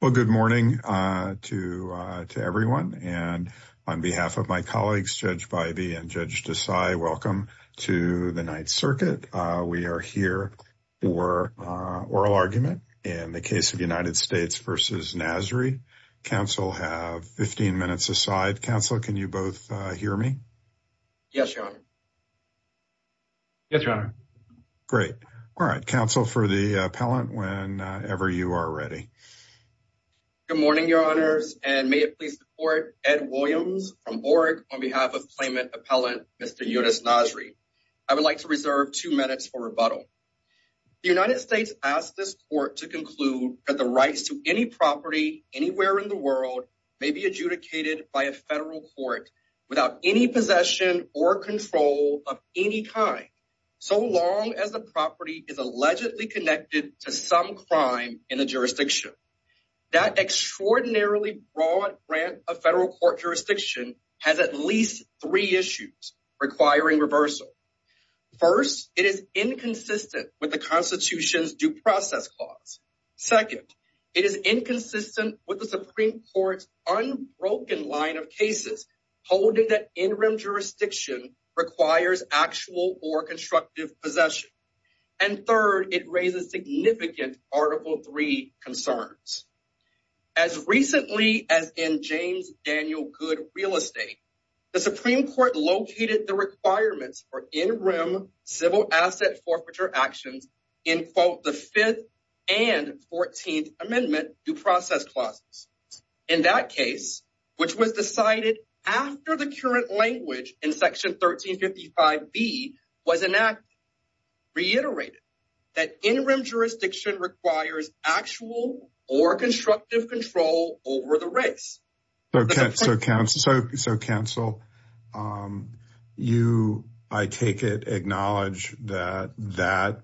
Well, good morning to everyone. And on behalf of my colleagues, Judge Bybee and Judge Desai, welcome to the Ninth Circuit. We are here for oral argument in the case of United States v. Nasri. Counsel have 15 minutes aside. Counsel, can you both hear me? Yes, Your Honor. Yes, Your Honor. Great. All right. Counsel, for the appellant, whenever you are ready. Good morning, Your Honors. And may it please the court, Ed Williams from BORG on behalf of claimant appellant, Mr. Younes Nasri. I would like to reserve two minutes for rebuttal. The United States asked this court to conclude that the rights to any property anywhere in the world may be adjudicated by a federal court without any possession or control of any kind, so long as the property is allegedly connected to some crime in the jurisdiction. That extraordinarily broad grant of federal court jurisdiction has at least three issues requiring reversal. First, it is inconsistent with the Constitution's due process clause. Second, it is inconsistent with the Supreme Court's unbroken line of cases, holding that in-rim jurisdiction requires actual or constructive possession. And third, it raises significant Article III concerns. As recently as in James Daniel Good real estate, the Supreme Court located the requirements for in-rim civil asset forfeiture actions in both the Fifth and Fourteenth Amendment due process clauses. In that case, which was decided after the current language in Section 1355B was enacted, reiterated that in-rim jurisdiction requires actual or constructive control over the race. So counsel, you, I take it, acknowledge that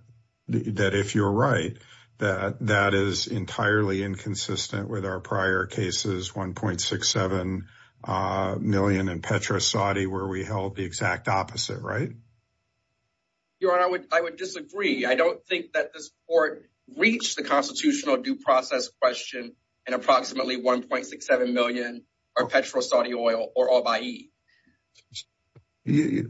if you're right, that that is entirely inconsistent with our prior cases, 1.67 million in Petro-Saudi, where we held the exact opposite, right? Your Honor, I would disagree. I don't think that this court reached the Constitutional due process question and approximately 1.67 million are Petro-Saudi oil or all by E.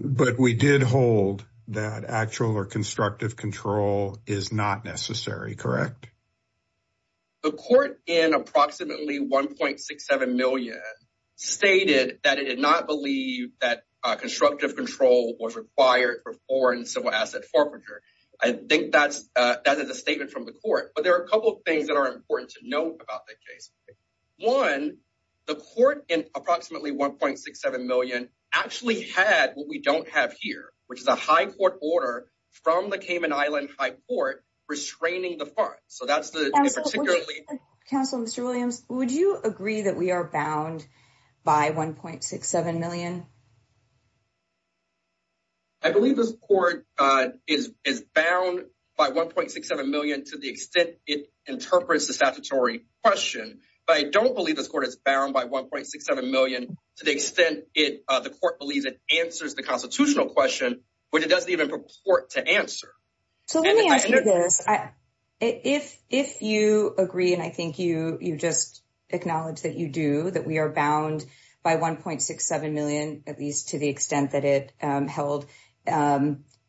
But we did hold that actual or constructive control is not necessary, correct? The court in approximately 1.67 million stated that it did not believe that constructive control was required for foreign civil asset forfeiture. I think that's a statement from the court, but there are a couple of things that are important to note about that case. One, the court in approximately 1.67 million actually had what we don't have here, which is a court order from the Cayman Island High Court restraining the funds. So that's the particularly would you agree that we are bound by 1.67 million? I believe this court is bound by 1.67 million to the extent it interprets the statutory question, but I don't believe this court is bound by 1.67 million to the extent the court believes it answers the Constitutional question, but it doesn't even purport to answer. So let me ask you this. If you agree, and I think you just acknowledge that you do, that we are bound by 1.67 million, at least to the extent that it held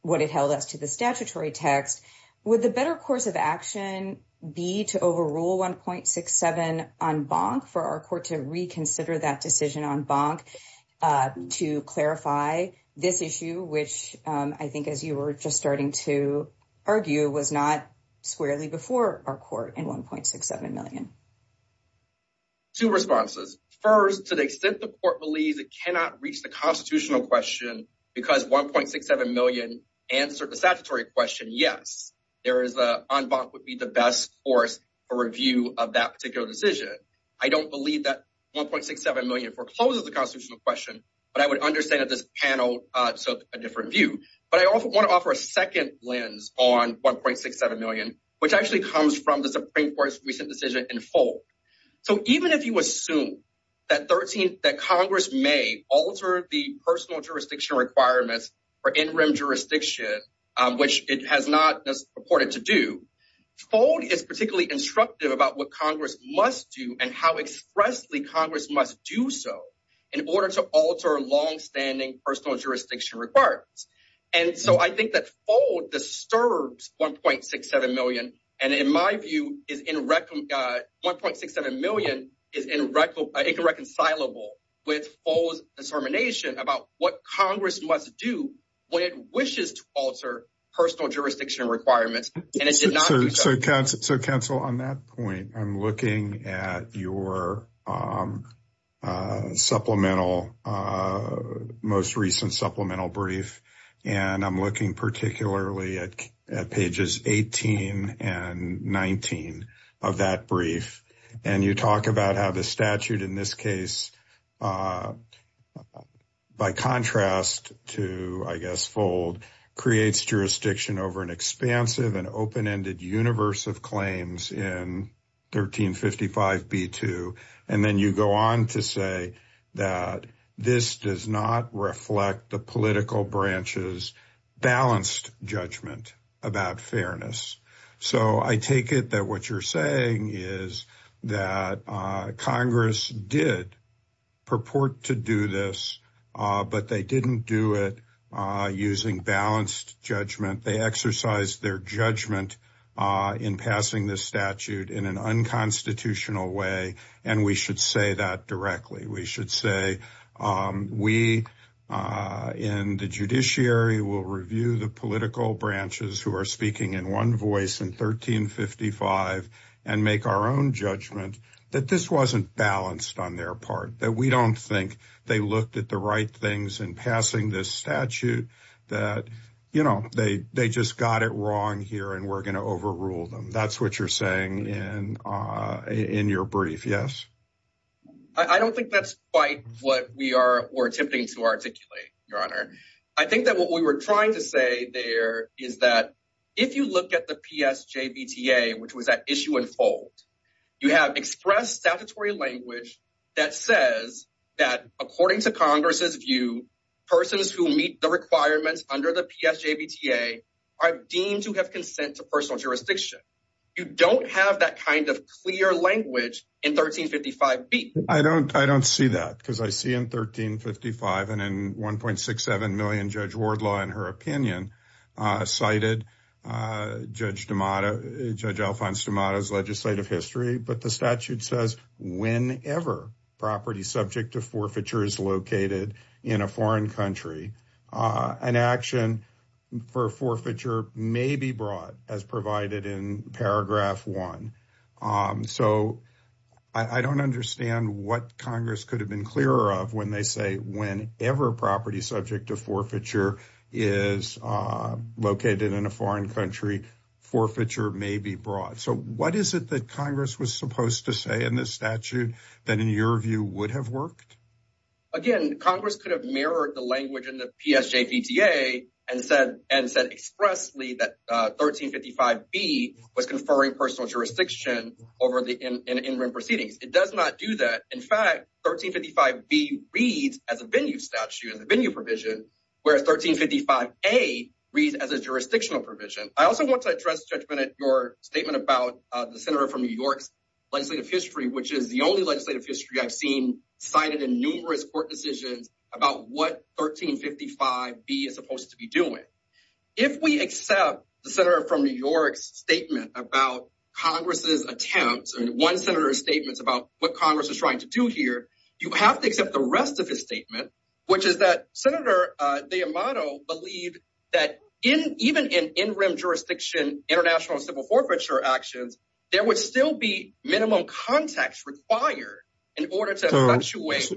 what it held us to the statutory text, would the better course of action be to overrule 1.67 on bonk for our court to reconsider that decision on bonk to clarify this issue, which I think as you were just starting to argue was not squarely before our court in 1.67 million? Two responses. First, to the extent the court believes it cannot reach the Constitutional question because 1.67 million answered the statutory question, yes, on bonk would be the best course for review of that particular decision. I don't believe that 1.67 million forecloses the Constitutional question, but I would understand that this panel took a different view. But I want to offer a second lens on 1.67 million, which actually comes from the Supreme Court's recent decision in Folk. So even if you assume that Congress may alter the personal jurisdiction requirements for in-rim jurisdiction, which it has not purported to do, Folk is particularly instructive about what Congress must do and how expressly Congress must do so in order to alter long-standing personal jurisdiction requirements. And so I think that Folk disturbs 1.67 million, and in my view, 1.67 million is irreconcilable with Folk's discernment about what Congress must do when it wishes to alter personal jurisdiction requirements, and it did not do so. So, counsel, on that point, I'm looking at your most recent supplemental brief, and I'm looking particularly at pages 18 and 19 of that brief, and you talk about how the statute in this case, by contrast to, I guess, Folk, creates jurisdiction over an expansive and open-ended universe of claims in 1355b2, and then you go on to say that this does not reflect the branch's balanced judgment about fairness. So I take it that what you're saying is that Congress did purport to do this, but they didn't do it using balanced judgment. They exercised their judgment in passing this statute in an unconstitutional way, and we should say that directly. We should say, we in the judiciary will review the political branches who are speaking in one voice in 1355 and make our own judgment that this wasn't balanced on their part, that we don't think they looked at the right things in passing this statute, that they just got it wrong here and we're going to overrule them. That's what you're saying in your brief, yes? I don't think that's quite what we are attempting to articulate, Your Honor. I think that what we were trying to say there is that if you look at the PSJBTA, which was at issue and fold, you have expressed statutory language that says that according to Congress's view, persons who meet the requirements under the PSJBTA are deemed to have consent to personal jurisdiction. You don't have that kind of clear language in 1355b. I don't see that, because I see in 1355 and in 1.67 million, Judge Wardlaw, in her opinion, cited Judge Alfonso D'Amato's legislative history, but the statute says whenever property subject to forfeiture is located in a foreign country, an action for forfeiture may be brought, as provided in paragraph one. So I don't understand what Congress could have been clearer of when they say whenever property subject to forfeiture is located in a foreign country, forfeiture may be brought. So what is it that Congress was supposed to say in this statute that in your view would have worked? Again, Congress could have mirrored the language in the PSJBTA and said expressly that 1355b was conferring personal jurisdiction over the in-room proceedings. It does not do that. In fact, 1355b reads as a venue statute, as a venue provision, whereas 1355a reads as a jurisdictional provision. I also want to address, Judge Bennett, your statement about the senator from New York's which is the only legislative history I've seen cited in numerous court decisions about what 1355b is supposed to be doing. If we accept the senator from New York's statement about Congress's attempts, one senator's statements about what Congress is trying to do here, you have to accept the rest of his statement, which is that Senator D'Amato believed that even in in-room jurisdiction, international civil forfeiture actions, there would still be minimum context required in order to fluctuate.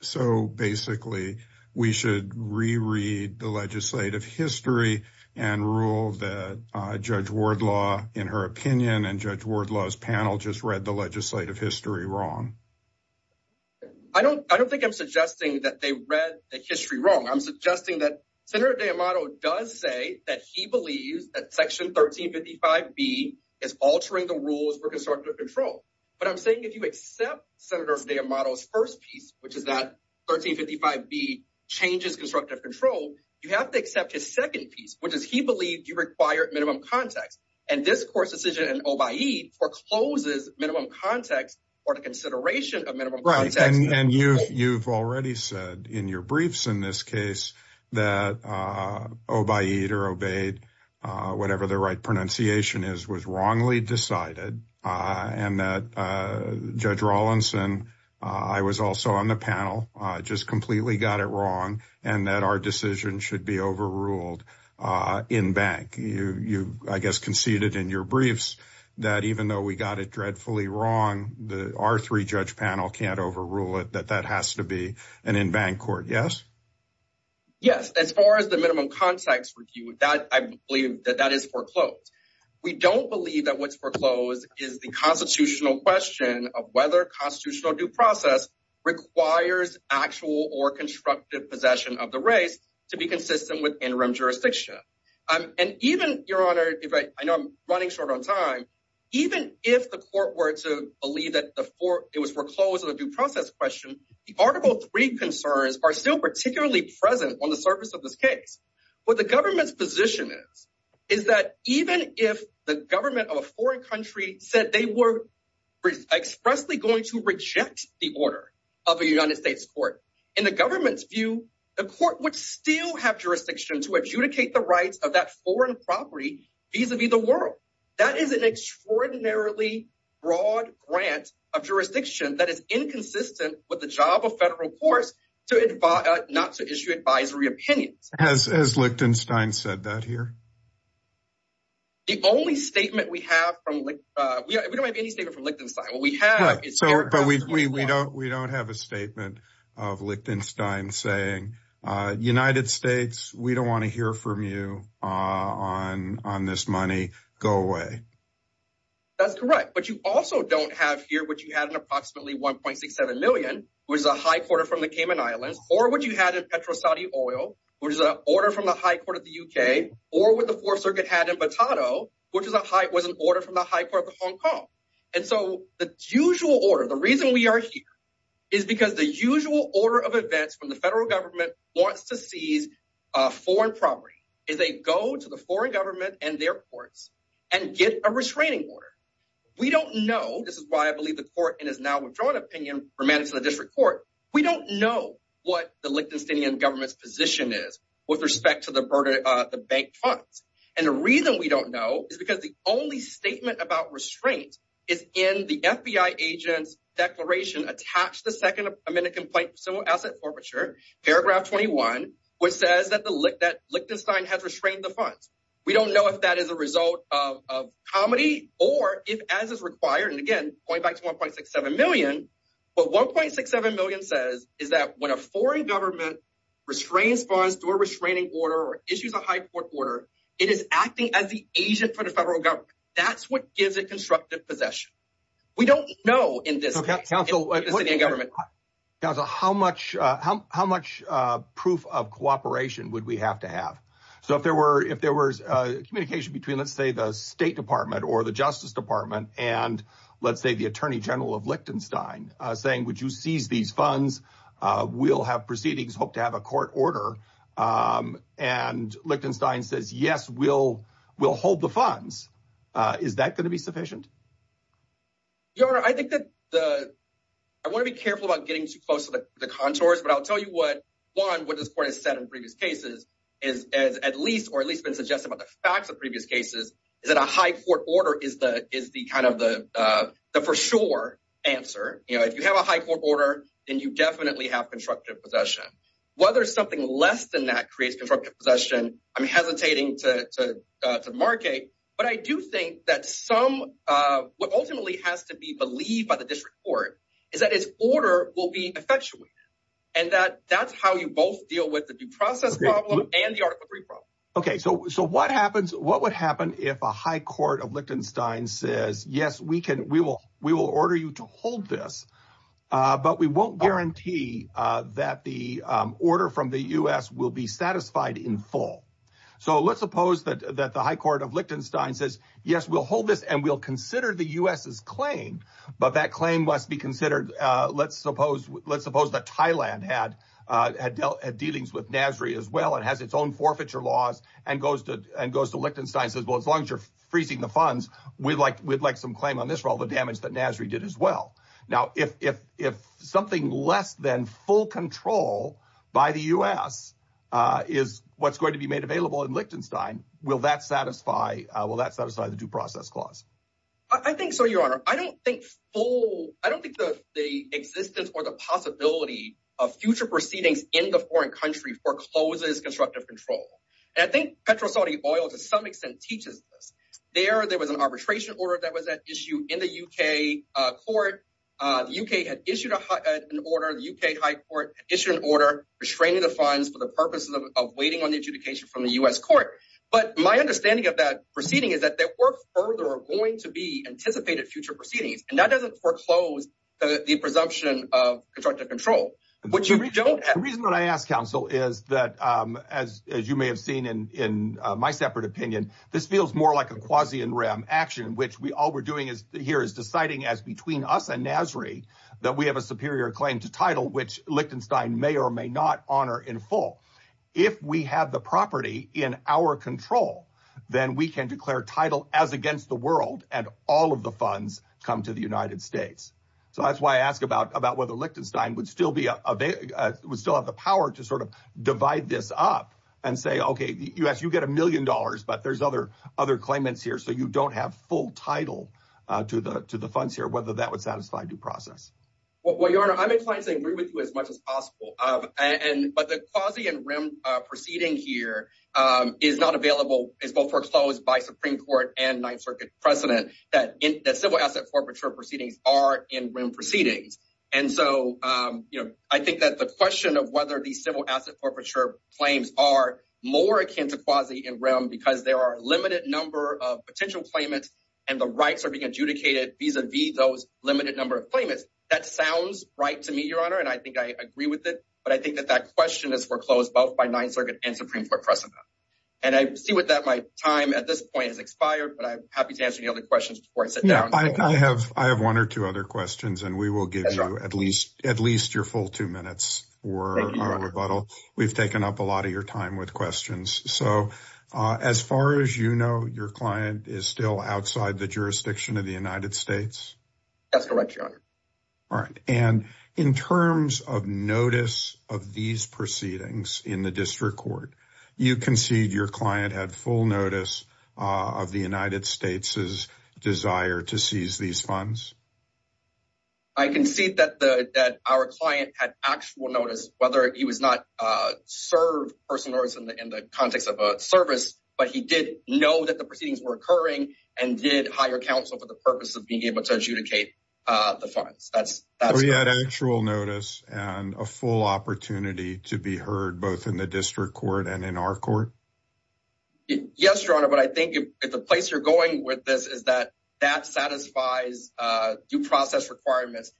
So basically, we should re-read the legislative history and rule that Judge Wardlaw, in her opinion, and Judge Wardlaw's panel just read the legislative history wrong. I don't think I'm suggesting that they read the history wrong. I'm suggesting that Senator D'Amato does say that he believes that section 1355b is altering the rules for constructive control. But I'm saying if you accept Senator D'Amato's first piece, which is that 1355b changes constructive control, you have to accept his second piece, which is he believed you required minimum context. And this court's decision in Obaid forecloses minimum context or the consideration of minimum context. And you've already said in your briefs in this case that Obaid or Obaid, whatever the right pronunciation is, was wrongly decided. And that Judge Rawlinson, I was also on the panel, just completely got it wrong, and that our decision should be overruled in bank. You, I guess, conceded in your briefs that even though we got it dreadfully wrong, our three-judge panel can't overrule it, that that has to be an in-bank court, yes? Yes, as far as the minimum context review, that I believe that that is foreclosed. We don't believe that what's foreclosed is the constitutional question of whether constitutional due process requires actual or constructive possession of the race to be consistent with interim jurisdiction. And even, Your Honor, I know I'm running short on time, even if the court were to believe that it was foreclosed on a due process question, the Article 3 concerns are still particularly present on the surface of this case. What the government's position is, is that even if the government of a foreign country said they were expressly going to reject the order of a United States court, in the government's view, the court would still have jurisdiction to adjudicate the rights of that foreign property vis-a-vis the That is an extraordinarily broad grant of jurisdiction that is inconsistent with the job of federal courts to advise, not to issue advisory opinions. Has Lichtenstein said that here? The only statement we have from, we don't have any statement from Lichtenstein. What we have is. So, but we don't have a statement of Lichtenstein saying, United States, we don't want to hear from you on this money. Go away. That's correct. But you also don't have here what you had in approximately 1.67 million, which is a high quarter from the Cayman Islands, or what you had in Petro Saudi oil, which is an order from the high court of the UK, or what the Fourth Circuit had in Batado, which was an order from the high court of Hong Kong. And so the usual order, the reason we are here is because the usual order of events from the federal government wants to seize foreign property, is they go to the foreign government and their courts and get a restraining order. We don't know. This is why I believe the court and has now withdrawn opinion from managing the district court. We don't know what the Lichtensteinian government's position is with respect to the burden of the bank funds. And the reason we don't know is because the only statement about restraint is in the FBI agent's declaration attached to the second amendment complaint for civil asset forfeiture, paragraph 21, which says that Lichtenstein has restrained the funds. We don't know if that is a result of comedy or if as is required. And again, going back to 1.67 million, what 1.67 million says is that when a foreign government restrains funds through a restraining order or issues a high court order, it is acting as the agent for the federal government. That's what gives it constructive possession. We don't know in this city and government. Council, how much proof of cooperation would we have to have? So if there was a communication between, let's say, the State Department or the Justice Department and, let's say, the Attorney General of Lichtenstein saying, would you seize these funds? We'll have proceedings, hope to have a court order. And Lichtenstein says, yes, we'll hold the funds. Is that going to be I want to be careful about getting too close to the contours, but I'll tell you what, one, what this court has said in previous cases is at least or at least been suggesting about the facts of previous cases is that a high court order is the kind of the for sure answer. If you have a high court order, then you definitely have constructive possession. Whether something less than that creates constructive possession, I'm hesitating to demarcate, but I do think that some what ultimately has to be believed by the district court is that its order will be effectuated and that that's how you both deal with the due process problem and the article three problem. OK, so so what happens what would happen if a high court of Lichtenstein says, yes, we can we will we will order you to hold this, but we won't guarantee that the order from the U.S. will be satisfied in full. So let's suppose that the high court of Lichtenstein says, yes, we'll hold this and we'll consider the U.S.'s claim, but that claim must be considered. Let's suppose let's suppose that Thailand had had dealings with Nasri as well and has its own forfeiture laws and goes to and goes to Lichtenstein says, well, as long as you're freezing the funds, we'd like we'd like some claim on this for all the damage that Nasri did as well. Now, if if if something less than full control by the U.S. is what's going to be made available in Lichtenstein, will that satisfy will that satisfy the due process clause? I think so, your honor. I don't think full I don't think the the existence or the possibility of future proceedings in the foreign country forecloses constructive control. And I think Petro Saudi oil, to some extent, teaches this there. There was an arbitration order that was at issue in the U.K. court. The U.K. had issued an order. The U.K. high court issued an order restraining the funds for the purposes of waiting on the adjudication from the U.S. court. But my understanding of that proceeding is that there were further going to be anticipated future proceedings. And that doesn't foreclose the presumption of constructive control, which you don't. The reason that I ask counsel is that as as you may have seen in in my separate opinion, this feels more like a quasi and ram action, which we all we're doing is here is deciding as between us and Nasri that we have a superior claim to title, which Lichtenstein may or may not honor in full. If we have the property in our control, then we can declare title as against the world. And all of the funds come to the United States. So that's why I ask about about whether Lichtenstein would still be a big would still have the power to sort of divide this up and say, OK, yes, you get a million dollars, but there's other other claimants here. So you don't have full title to the to the funds here, whether that would satisfy due process. Well, your honor, I'm inclined to agree with you as much as possible. And but the quasi and ram proceeding here is not available is foreclosed by Supreme Court and Ninth Circuit precedent that that civil asset forfeiture proceedings are in proceedings. And so I think that the question of whether these civil asset forfeiture claims are more akin to quasi and ram because there are a limited number of potential claimants and the rights are being adjudicated vis a vis those limited number of claimants. That sounds right to me, your honor. And I think I agree with it. But I think that that question is foreclosed both by Ninth Circuit and Supreme Court precedent. And I see what that might time at this point has expired. But I'm happy to answer the other questions before I sit down. I have I have one or two other questions and we will give you at least at least your full two minutes or a rebuttal. We've taken up a lot of your time with questions. So as far as you know, your client is still outside the jurisdiction of the United States. That's correct, your honor. All right. And in terms of notice of these proceedings in the district court, you concede your client had full notice of the United States's desire to seize these funds. I concede that the that our client had actual notice, whether he was not serve person or in the context of a service, but he did know that the proceedings were occurring and did hire counsel for the purpose of being able to adjudicate the funds. That's that we had actual notice and a full opportunity to be heard both in the district court and in our court. Yes, your honor. But I think if the place you're going with this is that that satisfies due process requirements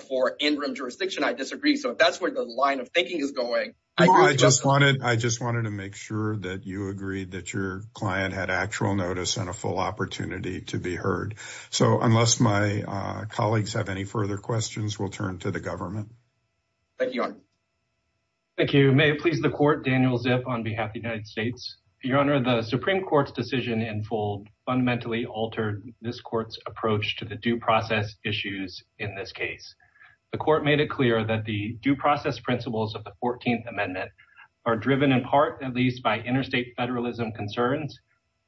for interim jurisdiction, I disagree. So that's where the line of thinking is going. I just wanted I just wanted to make sure that you agreed that your client had actual notice and a full opportunity to be heard. So unless my colleagues have any further questions, we'll turn to the government. Thank you, your honor. Thank you. May it please the court. Daniel Zip on behalf of the United States. Your honor, the Supreme Court's decision in full fundamentally altered this court's approach to the due process issues. In this case, the court made it clear that the due process principles of the 14th Amendment are driven in part at least by interstate federalism concerns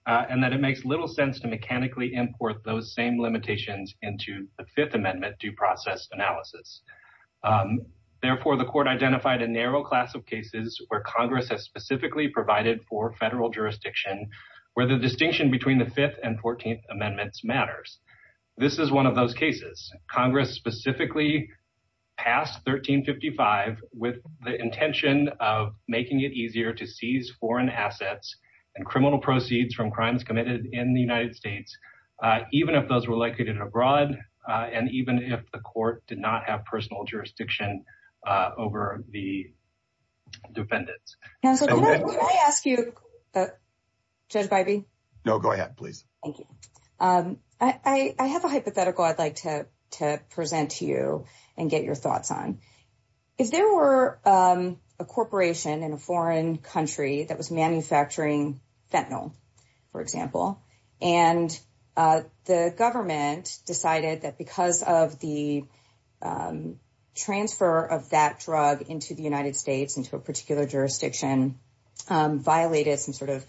and that it makes little sense to mechanically import those same limitations into the Fifth Amendment due process analysis. Therefore, the court identified a narrow class of cases where Congress has specifically provided for federal jurisdiction where the distinction between the Fifth and 14th Amendments matters. This is one of those cases Congress specifically passed 1355 with the intention of making it easier to seize foreign assets and criminal proceeds from crimes committed in the United States, even if those were located abroad and even if the court did not have personal jurisdiction over the defendants. Can I ask you, Judge Bybee? No, and get your thoughts on if there were a corporation in a foreign country that was manufacturing fentanyl, for example, and the government decided that because of the transfer of that drug into the United States into a particular jurisdiction, violated some sort of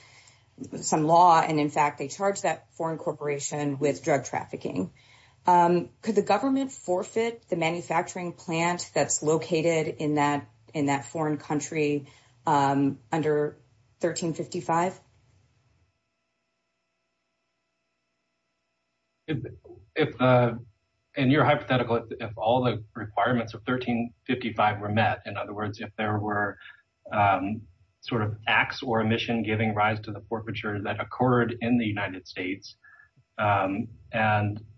some law. And in fact, they charged that foreign corporation with drug trafficking. Could the government forfeit the manufacturing plant that's located in that foreign country under 1355? In your hypothetical, if all the requirements of 1355 were met, in other words, if there were sort of acts or a mission giving rise to the forfeiture that occurred in the United States and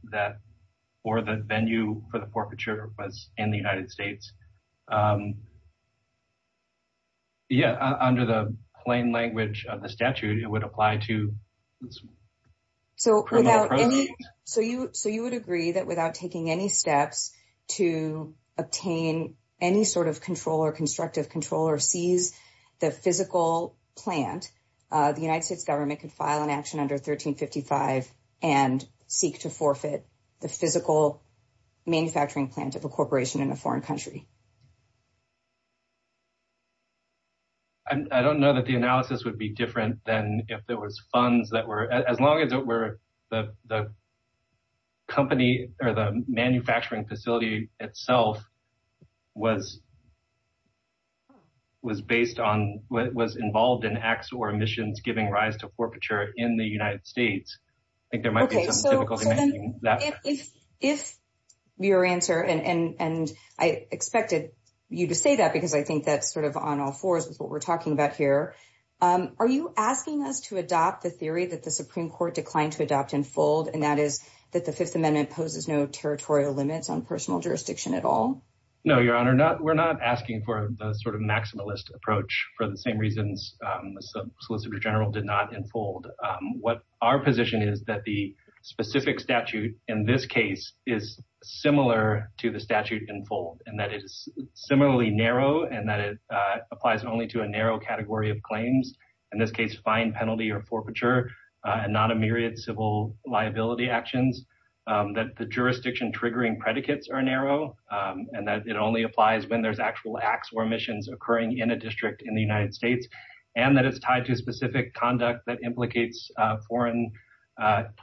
that or the venue for the forfeiture was in the United States, yeah, under the plain language of the statute, it would apply to criminal proceeds. So you would agree that without taking any steps to obtain any sort of control or constructive control or seize the physical plant, the United States would not file an action under 1355 and seek to forfeit the physical manufacturing plant of a corporation in a foreign country. I don't know that the analysis would be different than if there was funds that were, as long as it were the company or the manufacturing facility itself was involved in acts or missions giving rise to forfeiture in the United States. If your answer and I expected you to say that because I think that's sort of on all fours with what we're talking about here. Are you asking us to adopt the theory that the Supreme Court declined to adopt in full and that is that the Fifth Amendment poses no territorial limits on personal jurisdiction at all? No, Your Honor, we're not asking for the sort of maximalist approach for the same reasons solicitor general did not enfold. What our position is that the specific statute in this case is similar to the statute in full and that it is similarly narrow and that it applies only to a narrow category of claims. In this case, fine penalty or forfeiture and not a myriad civil liability actions that the jurisdiction triggering predicates are narrow and that it only applies when there's actual acts or missions occurring in a district in the United States and that it's tied to specific conduct that implicates foreign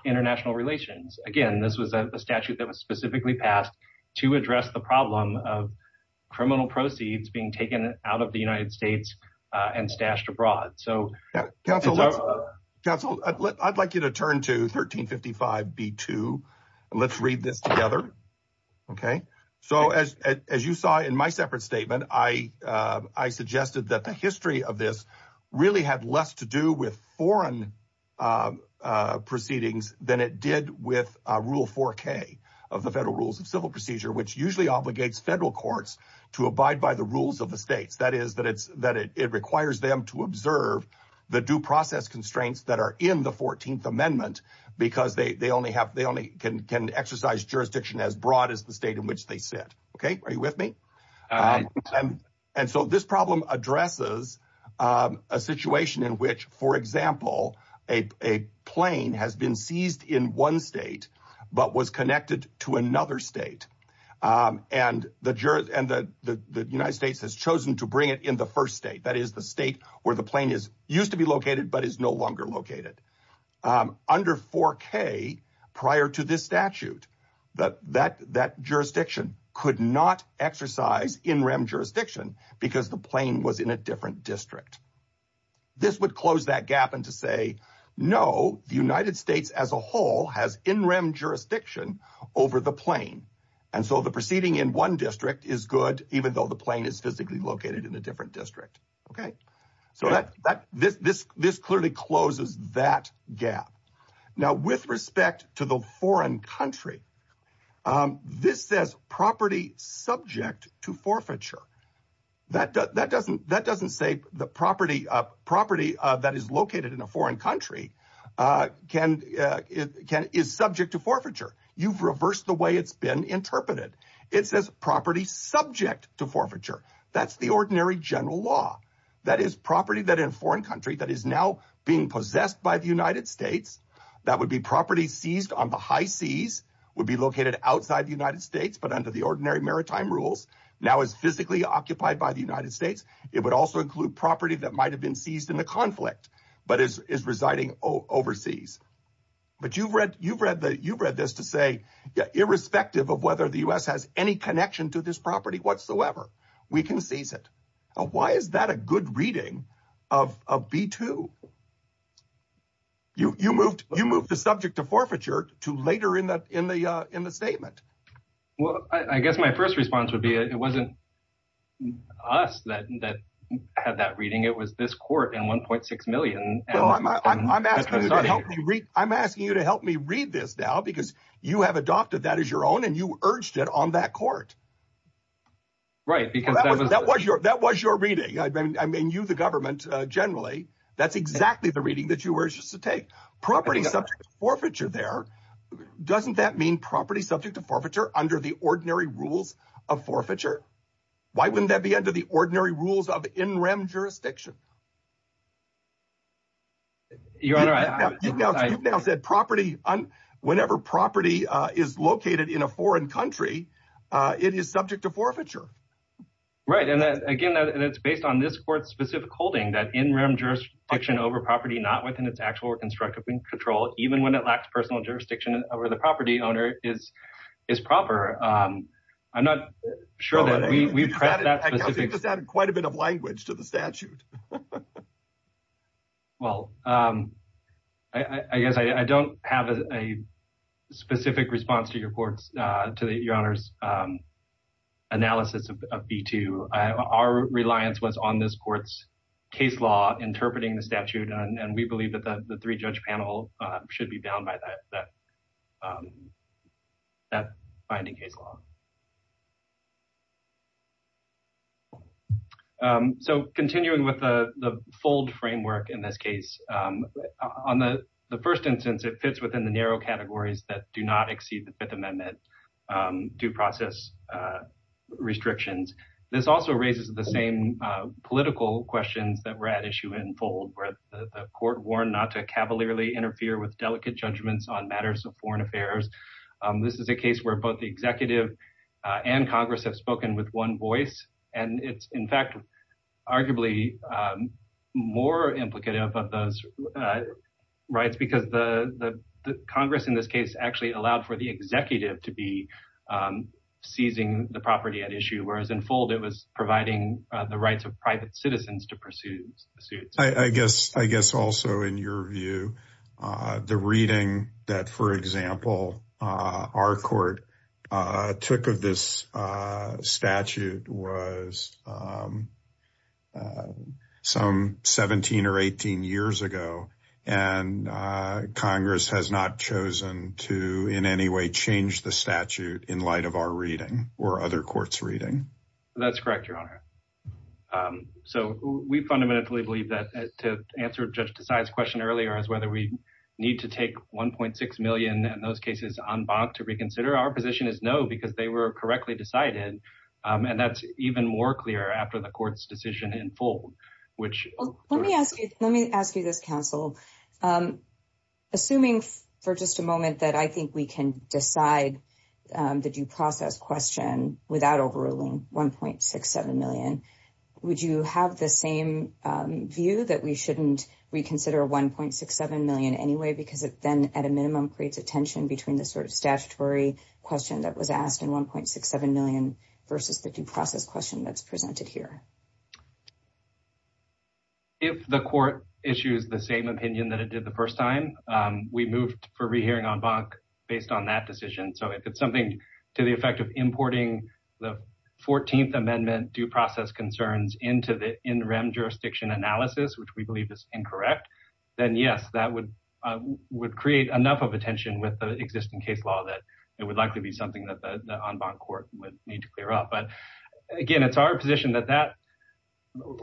international relations. Again, this was a statute that was specifically passed to address the problem of criminal I'd like you to turn to 1355 B2 and let's read this together. Okay, so as you saw in my separate statement, I suggested that the history of this really had less to do with foreign proceedings than it did with Rule 4k of the Federal Rules of Civil Procedure, which usually obligates federal courts to abide by the rules of the states. That is that it's that it requires them to observe the due process constraints that are in the 14th Amendment because they only have they only can exercise jurisdiction as broad as the state in which they sit. Okay, are you with me? And so this problem addresses a situation in which, for example, a plane has been seized in one state, but was connected to another state and the jurors and the United States has chosen to bring it in first state. That is the state where the plane is used to be located, but is no longer located under 4k prior to this statute that that that jurisdiction could not exercise in-rem jurisdiction because the plane was in a different district. This would close that gap and to say no, the United States as a whole has in-rem jurisdiction over the plane. And so the seating in one district is good, even though the plane is physically located in a different district. Okay, so that this clearly closes that gap. Now, with respect to the foreign country, this says property subject to forfeiture. That doesn't say the property of property that is located in a foreign country can is subject to forfeiture. You've reversed the it's been interpreted. It says property subject to forfeiture. That's the ordinary general law. That is property that in foreign country that is now being possessed by the United States. That would be property seized on the high seas would be located outside the United States, but under the ordinary maritime rules now is physically occupied by the United States. It would also include property that might have been seized in the conflict, but is residing overseas. But you've read this to say irrespective of whether the U.S. has any connection to this property whatsoever. We can seize it. Why is that a good reading of B2? You moved the subject to forfeiture to later in the statement. Well, I guess my first response would be it wasn't us that had that reading. It was this court in 1.6 million. I'm asking you to help me read this now because you have adopted that as your own and you urged it on that court. Right. Because that was that was your that was your reading. I mean, you the government generally, that's exactly the reading that you were just to take property subject to forfeiture there. Doesn't that mean property subject to forfeiture under the ordinary rules of forfeiture? Why wouldn't that be under the ordinary rules of in rem jurisdiction? Your Honor, you've now said property, whenever property is located in a foreign country, it is subject to forfeiture. Right. And again, and it's based on this court's specific holding that in rem jurisdiction over property not within its actual or constructive control, even when it lacks personal jurisdiction over the property owner is is proper. I'm not sure that we've added quite a bit of language to the statute. Well, I guess I don't have a specific response to your court's to your honor's analysis of B2. Our reliance was on this court's case law interpreting the statute. And we believe that the three judge panel should be bound by that that that binding case law. Okay. So continuing with the fold framework in this case, on the first instance, it fits within the narrow categories that do not exceed the Fifth Amendment due process restrictions. This also raises the same political questions that were at issue in fold where the court warned not to cavalierly interfere with delicate judgments on matters of foreign affairs. This is a case where both the executive and Congress have spoken with one voice. And it's in fact, arguably, more implicative of those rights because the Congress in this case actually allowed for the executive to be seizing the property at issue, whereas in fold, it was providing the rights of private citizens to pursue suits, I guess, I guess, also, in your view, the reading that, for example, our court took of this statute was some 17 or 18 years ago, and Congress has not chosen to in any way change the statute in light of our reading or other courts reading. That's correct, your honor. So we fundamentally believe to answer Judge Desai's question earlier as whether we need to take 1.6 million in those cases en banc to reconsider, our position is no, because they were correctly decided. And that's even more clear after the court's decision in fold, which... Let me ask you this, counsel. Assuming for just a moment that I think we can decide the due process question without overruling 1.67 million, would you have the same view that we shouldn't reconsider 1.67 million anyway, because it then at a minimum creates a tension between the sort of statutory question that was asked and 1.67 million versus the due process question that's presented here? If the court issues the same opinion that it did the first time, we moved for rehearing en banc based on that decision. So if it's something to the effect of importing the 14th Amendment due process concerns into the in rem jurisdiction analysis, which we believe is incorrect, then yes, that would create enough of a tension with the existing case law that it would likely be something that the en banc court would need to clear up. But again, it's our position that that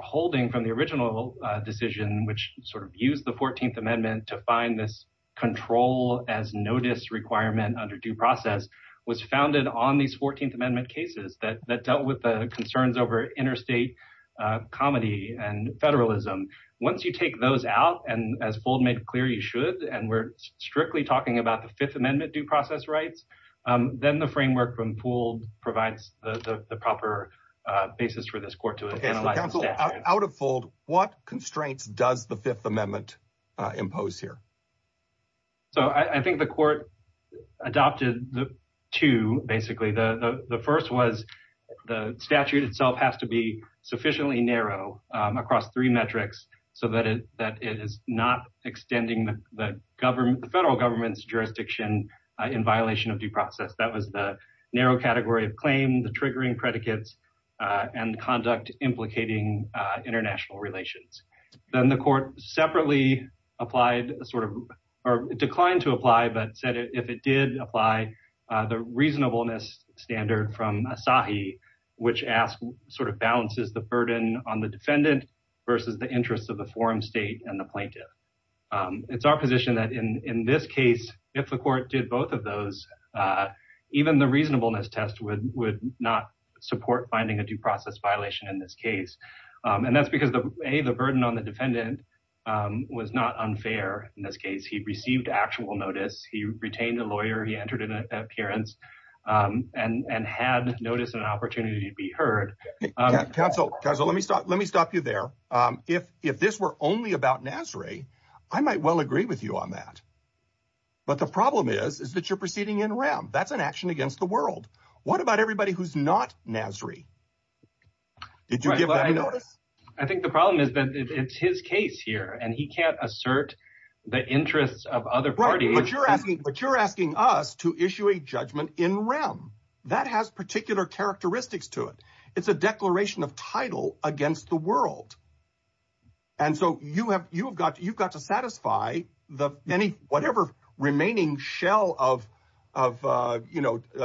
holding from the original decision, which sort of used the 14th Amendment to find this control as notice requirement under due process was founded on these 14th Amendment cases that dealt with the concerns over interstate comedy and federalism. Once you take those out, and as Fold made clear, you should, and we're strictly talking about the Fifth Amendment due process rights, then the framework from Poole provides the proper basis for this court to analyze. Counsel, out of Fold, what constraints does the Fifth Amendment impose here? So I think the court adopted the two, basically. The first was the statute itself has to be sufficiently narrow across three metrics so that it is not extending the federal government's jurisdiction in violation of due process. That was the narrow category of claim, the triggering predicates, and conduct implicating international relations. Then the court separately declined to apply, but said if it did apply the reasonableness standard from Asahi, which asks sort of balances the burden on the defendant versus the interests of the forum state and the plaintiff. It's our position that in this case, if the court did both of those, even the reasonableness test would not support finding a due process violation in this case. That's because the burden on the defendant was not unfair in this case. He received actual notice. He retained a lawyer. He entered an appearance and had notice and opportunity to be heard. Counsel, let me stop you there. If this were only about Nasri, I might well agree with you on that, but the problem is that you're proceeding in rem. That's an action against the world. What about everybody who's not Nasri? I think the problem is that it's his case here, and he can't assert the interests of other parties. But you're asking us to issue a judgment in rem. That has particular characteristics to it. It's a declaration of title against the world, and so you've got to satisfy whatever remaining shell of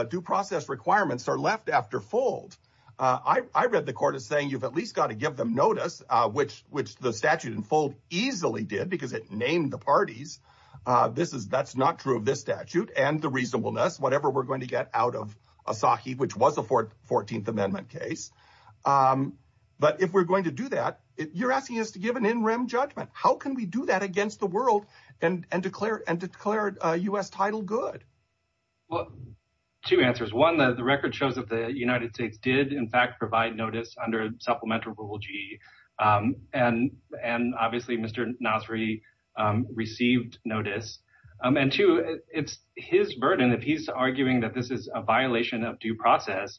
due process requirements are left after fold. I read the court as saying you've at least got to give them notice, which the statute in fold easily did because it named the parties. That's not true of this statute and the reasonableness, whatever we're going to get out of Asahi, which was a 14th Amendment case. But if we're going to do that, you're asking us to give an in rem judgment. How can we do that against the world and declare U.S. title good? Well, two answers. One, the record shows that the United States did in fact provide notice under Supplemental Rule G, and obviously Mr. Nasri received notice. And two, it's his burden. If he's arguing that this is a violation of due process,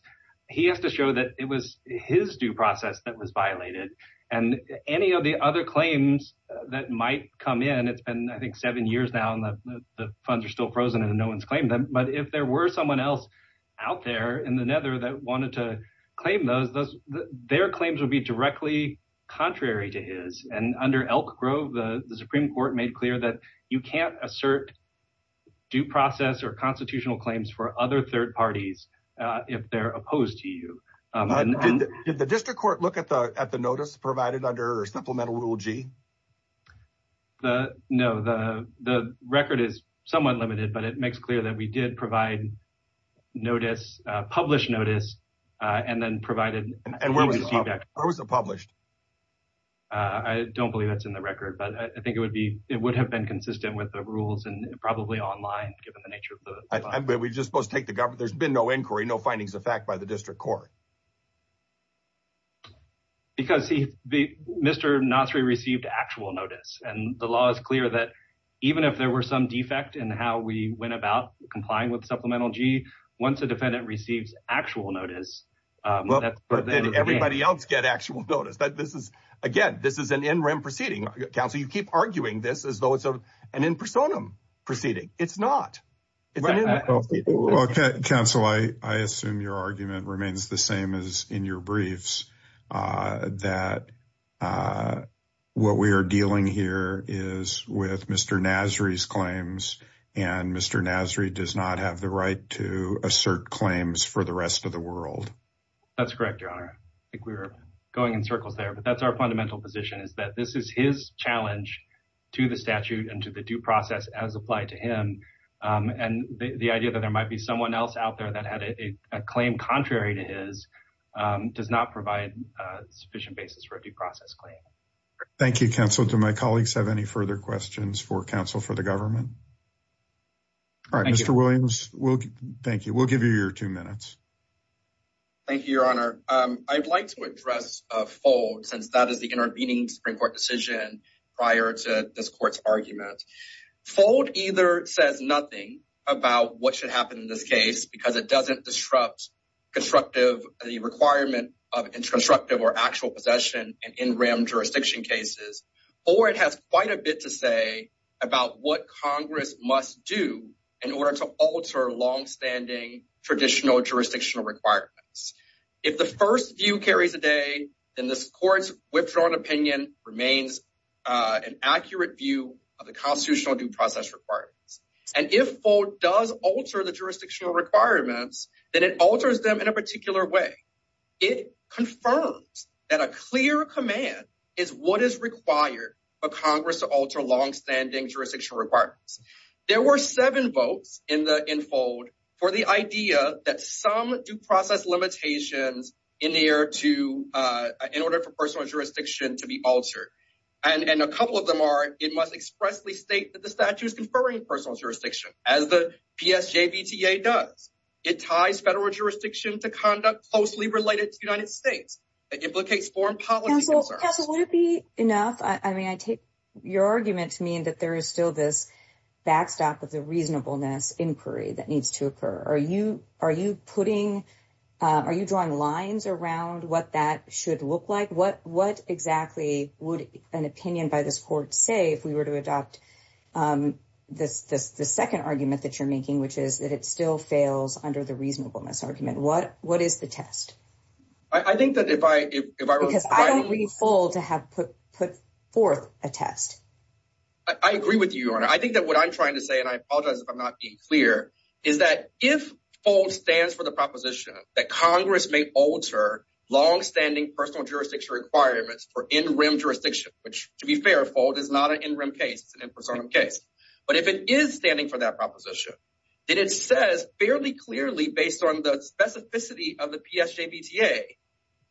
he has to show that it was his due process that was violated. And any of the other claims that might come in, it's been I think seven years now and the funds are still frozen and no one's claimed them. But if there were someone else out there in the nether that wanted to claim those, their claims would be directly contrary to his. And under Elk Grove, the Supreme Court made clear that you can't assert due process or constitutional claims for other third parties if they're opposed to you. Did the district court look at the notice provided under Supplemental Rule G? No, the record is somewhat limited, but it makes clear that we did provide notice, published notice, and then provided... And where was it published? I don't believe that's in the record, but I think it would have been consistent with the rules and probably online given the nature of the... We're just supposed to take the government... There's been no inquiry, no findings of fact by the district court. Because Mr. Nasri received actual notice, and the law is clear that even if there were some defect in how we went about complying with Supplemental G, once a defendant receives actual notice... But did everybody else get actual notice? Again, this is an in-rim proceeding. Counsel, you keep arguing this as though it's an in-personam proceeding. It's not. Well, Counsel, I assume your argument remains the same as in your briefs, that what we are dealing here is with Mr. Nasri's claims, and Mr. Nasri does not have the right to assert claims for the rest of the world. That's correct, Your Honor. I think we were going in circles there, but that's our fundamental position is that this is his challenge to the statute and to the due process as applied to him. And the idea that there might be someone else out there that had a claim contrary to his does not provide a sufficient basis for a due process claim. Thank you, Counsel. Do my colleagues have any further questions for the government? All right, Mr. Williams, thank you. We'll give you your two minutes. Thank you, Your Honor. I'd like to address FOLD since that is the intervening Supreme Court decision prior to this Court's argument. FOLD either says nothing about what should happen in this case because it doesn't disrupt the requirement of constructive or actual possession in NREM jurisdiction cases, or it has quite a bit to say about what Congress must do in order to alter longstanding traditional jurisdictional requirements. If the first view carries a day, then this Court's withdrawn opinion remains an accurate view of the constitutional due process requirements. And if FOLD does alter the jurisdictional requirements, then it alters them in a particular way. It confirms that a clear command is what is required for Congress to alter longstanding jurisdictional requirements. There were seven votes in FOLD for the idea that some due process limitations in order for personal jurisdiction to be altered. And a couple of them are it must expressly state that the statute is conferring personal jurisdiction as the PSJVTA does. It ties federal jurisdiction to conduct closely related to the United States. It implicates foreign policy concerns. Counsel, would it be enough? I mean, I take your argument to mean that there is still this backstop of the reasonableness inquiry that needs to occur. Are you drawing lines around what that should look like? What exactly would an opinion by this Court say if we were to adopt the second argument that you're making, which is that it still fails under the reasonableness argument? What is the test? Because I don't read FOLD to have put forth a test. I agree with you, Your Honor. I think that what I'm trying to say, and I apologize if I'm not being clear, is that if FOLD stands for the proposition that Congress may alter longstanding personal jurisdiction requirements for in-rim jurisdiction, which to be fair, FOLD is not an in-rim case. It's an in-personum case. But if it is standing for that proposition, then it says fairly clearly based on the specificity of the PSJVTA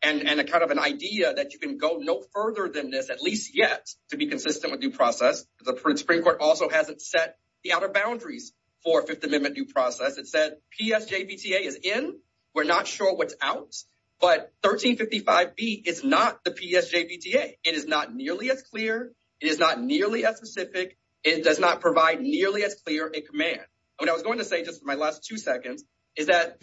and kind of an idea that you can go no further than this, at least yet, to be consistent with due process. The Supreme Court also hasn't set the outer boundaries for Fifth Amendment due process. It said PSJVTA is in. We're not sure what's out. But 1355B is not the PSJVTA. It is not nearly as clear. It is not nearly as specific. It does not provide nearly as clear a command. What I was going to say just for my last two seconds is that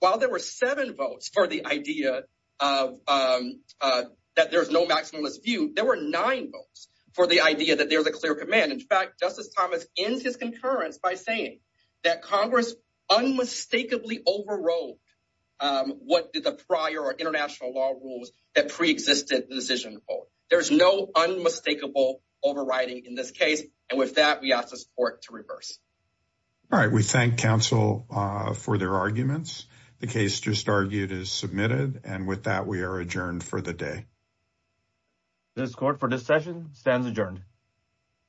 while there were seven votes for the idea that there's no maximalist view, there were nine votes for the idea that there's a clear command. In fact, Justice Thomas ends his concurrence by saying that Congress unmistakably overrode what did the prior or international law rules that pre-existed the decision. There's no unmistakable overriding in this case. And with that, we ask the court to reverse. All right. We thank counsel for their arguments. The case just argued is submitted. And with that, we are adjourned for the day. The court for this session stands adjourned.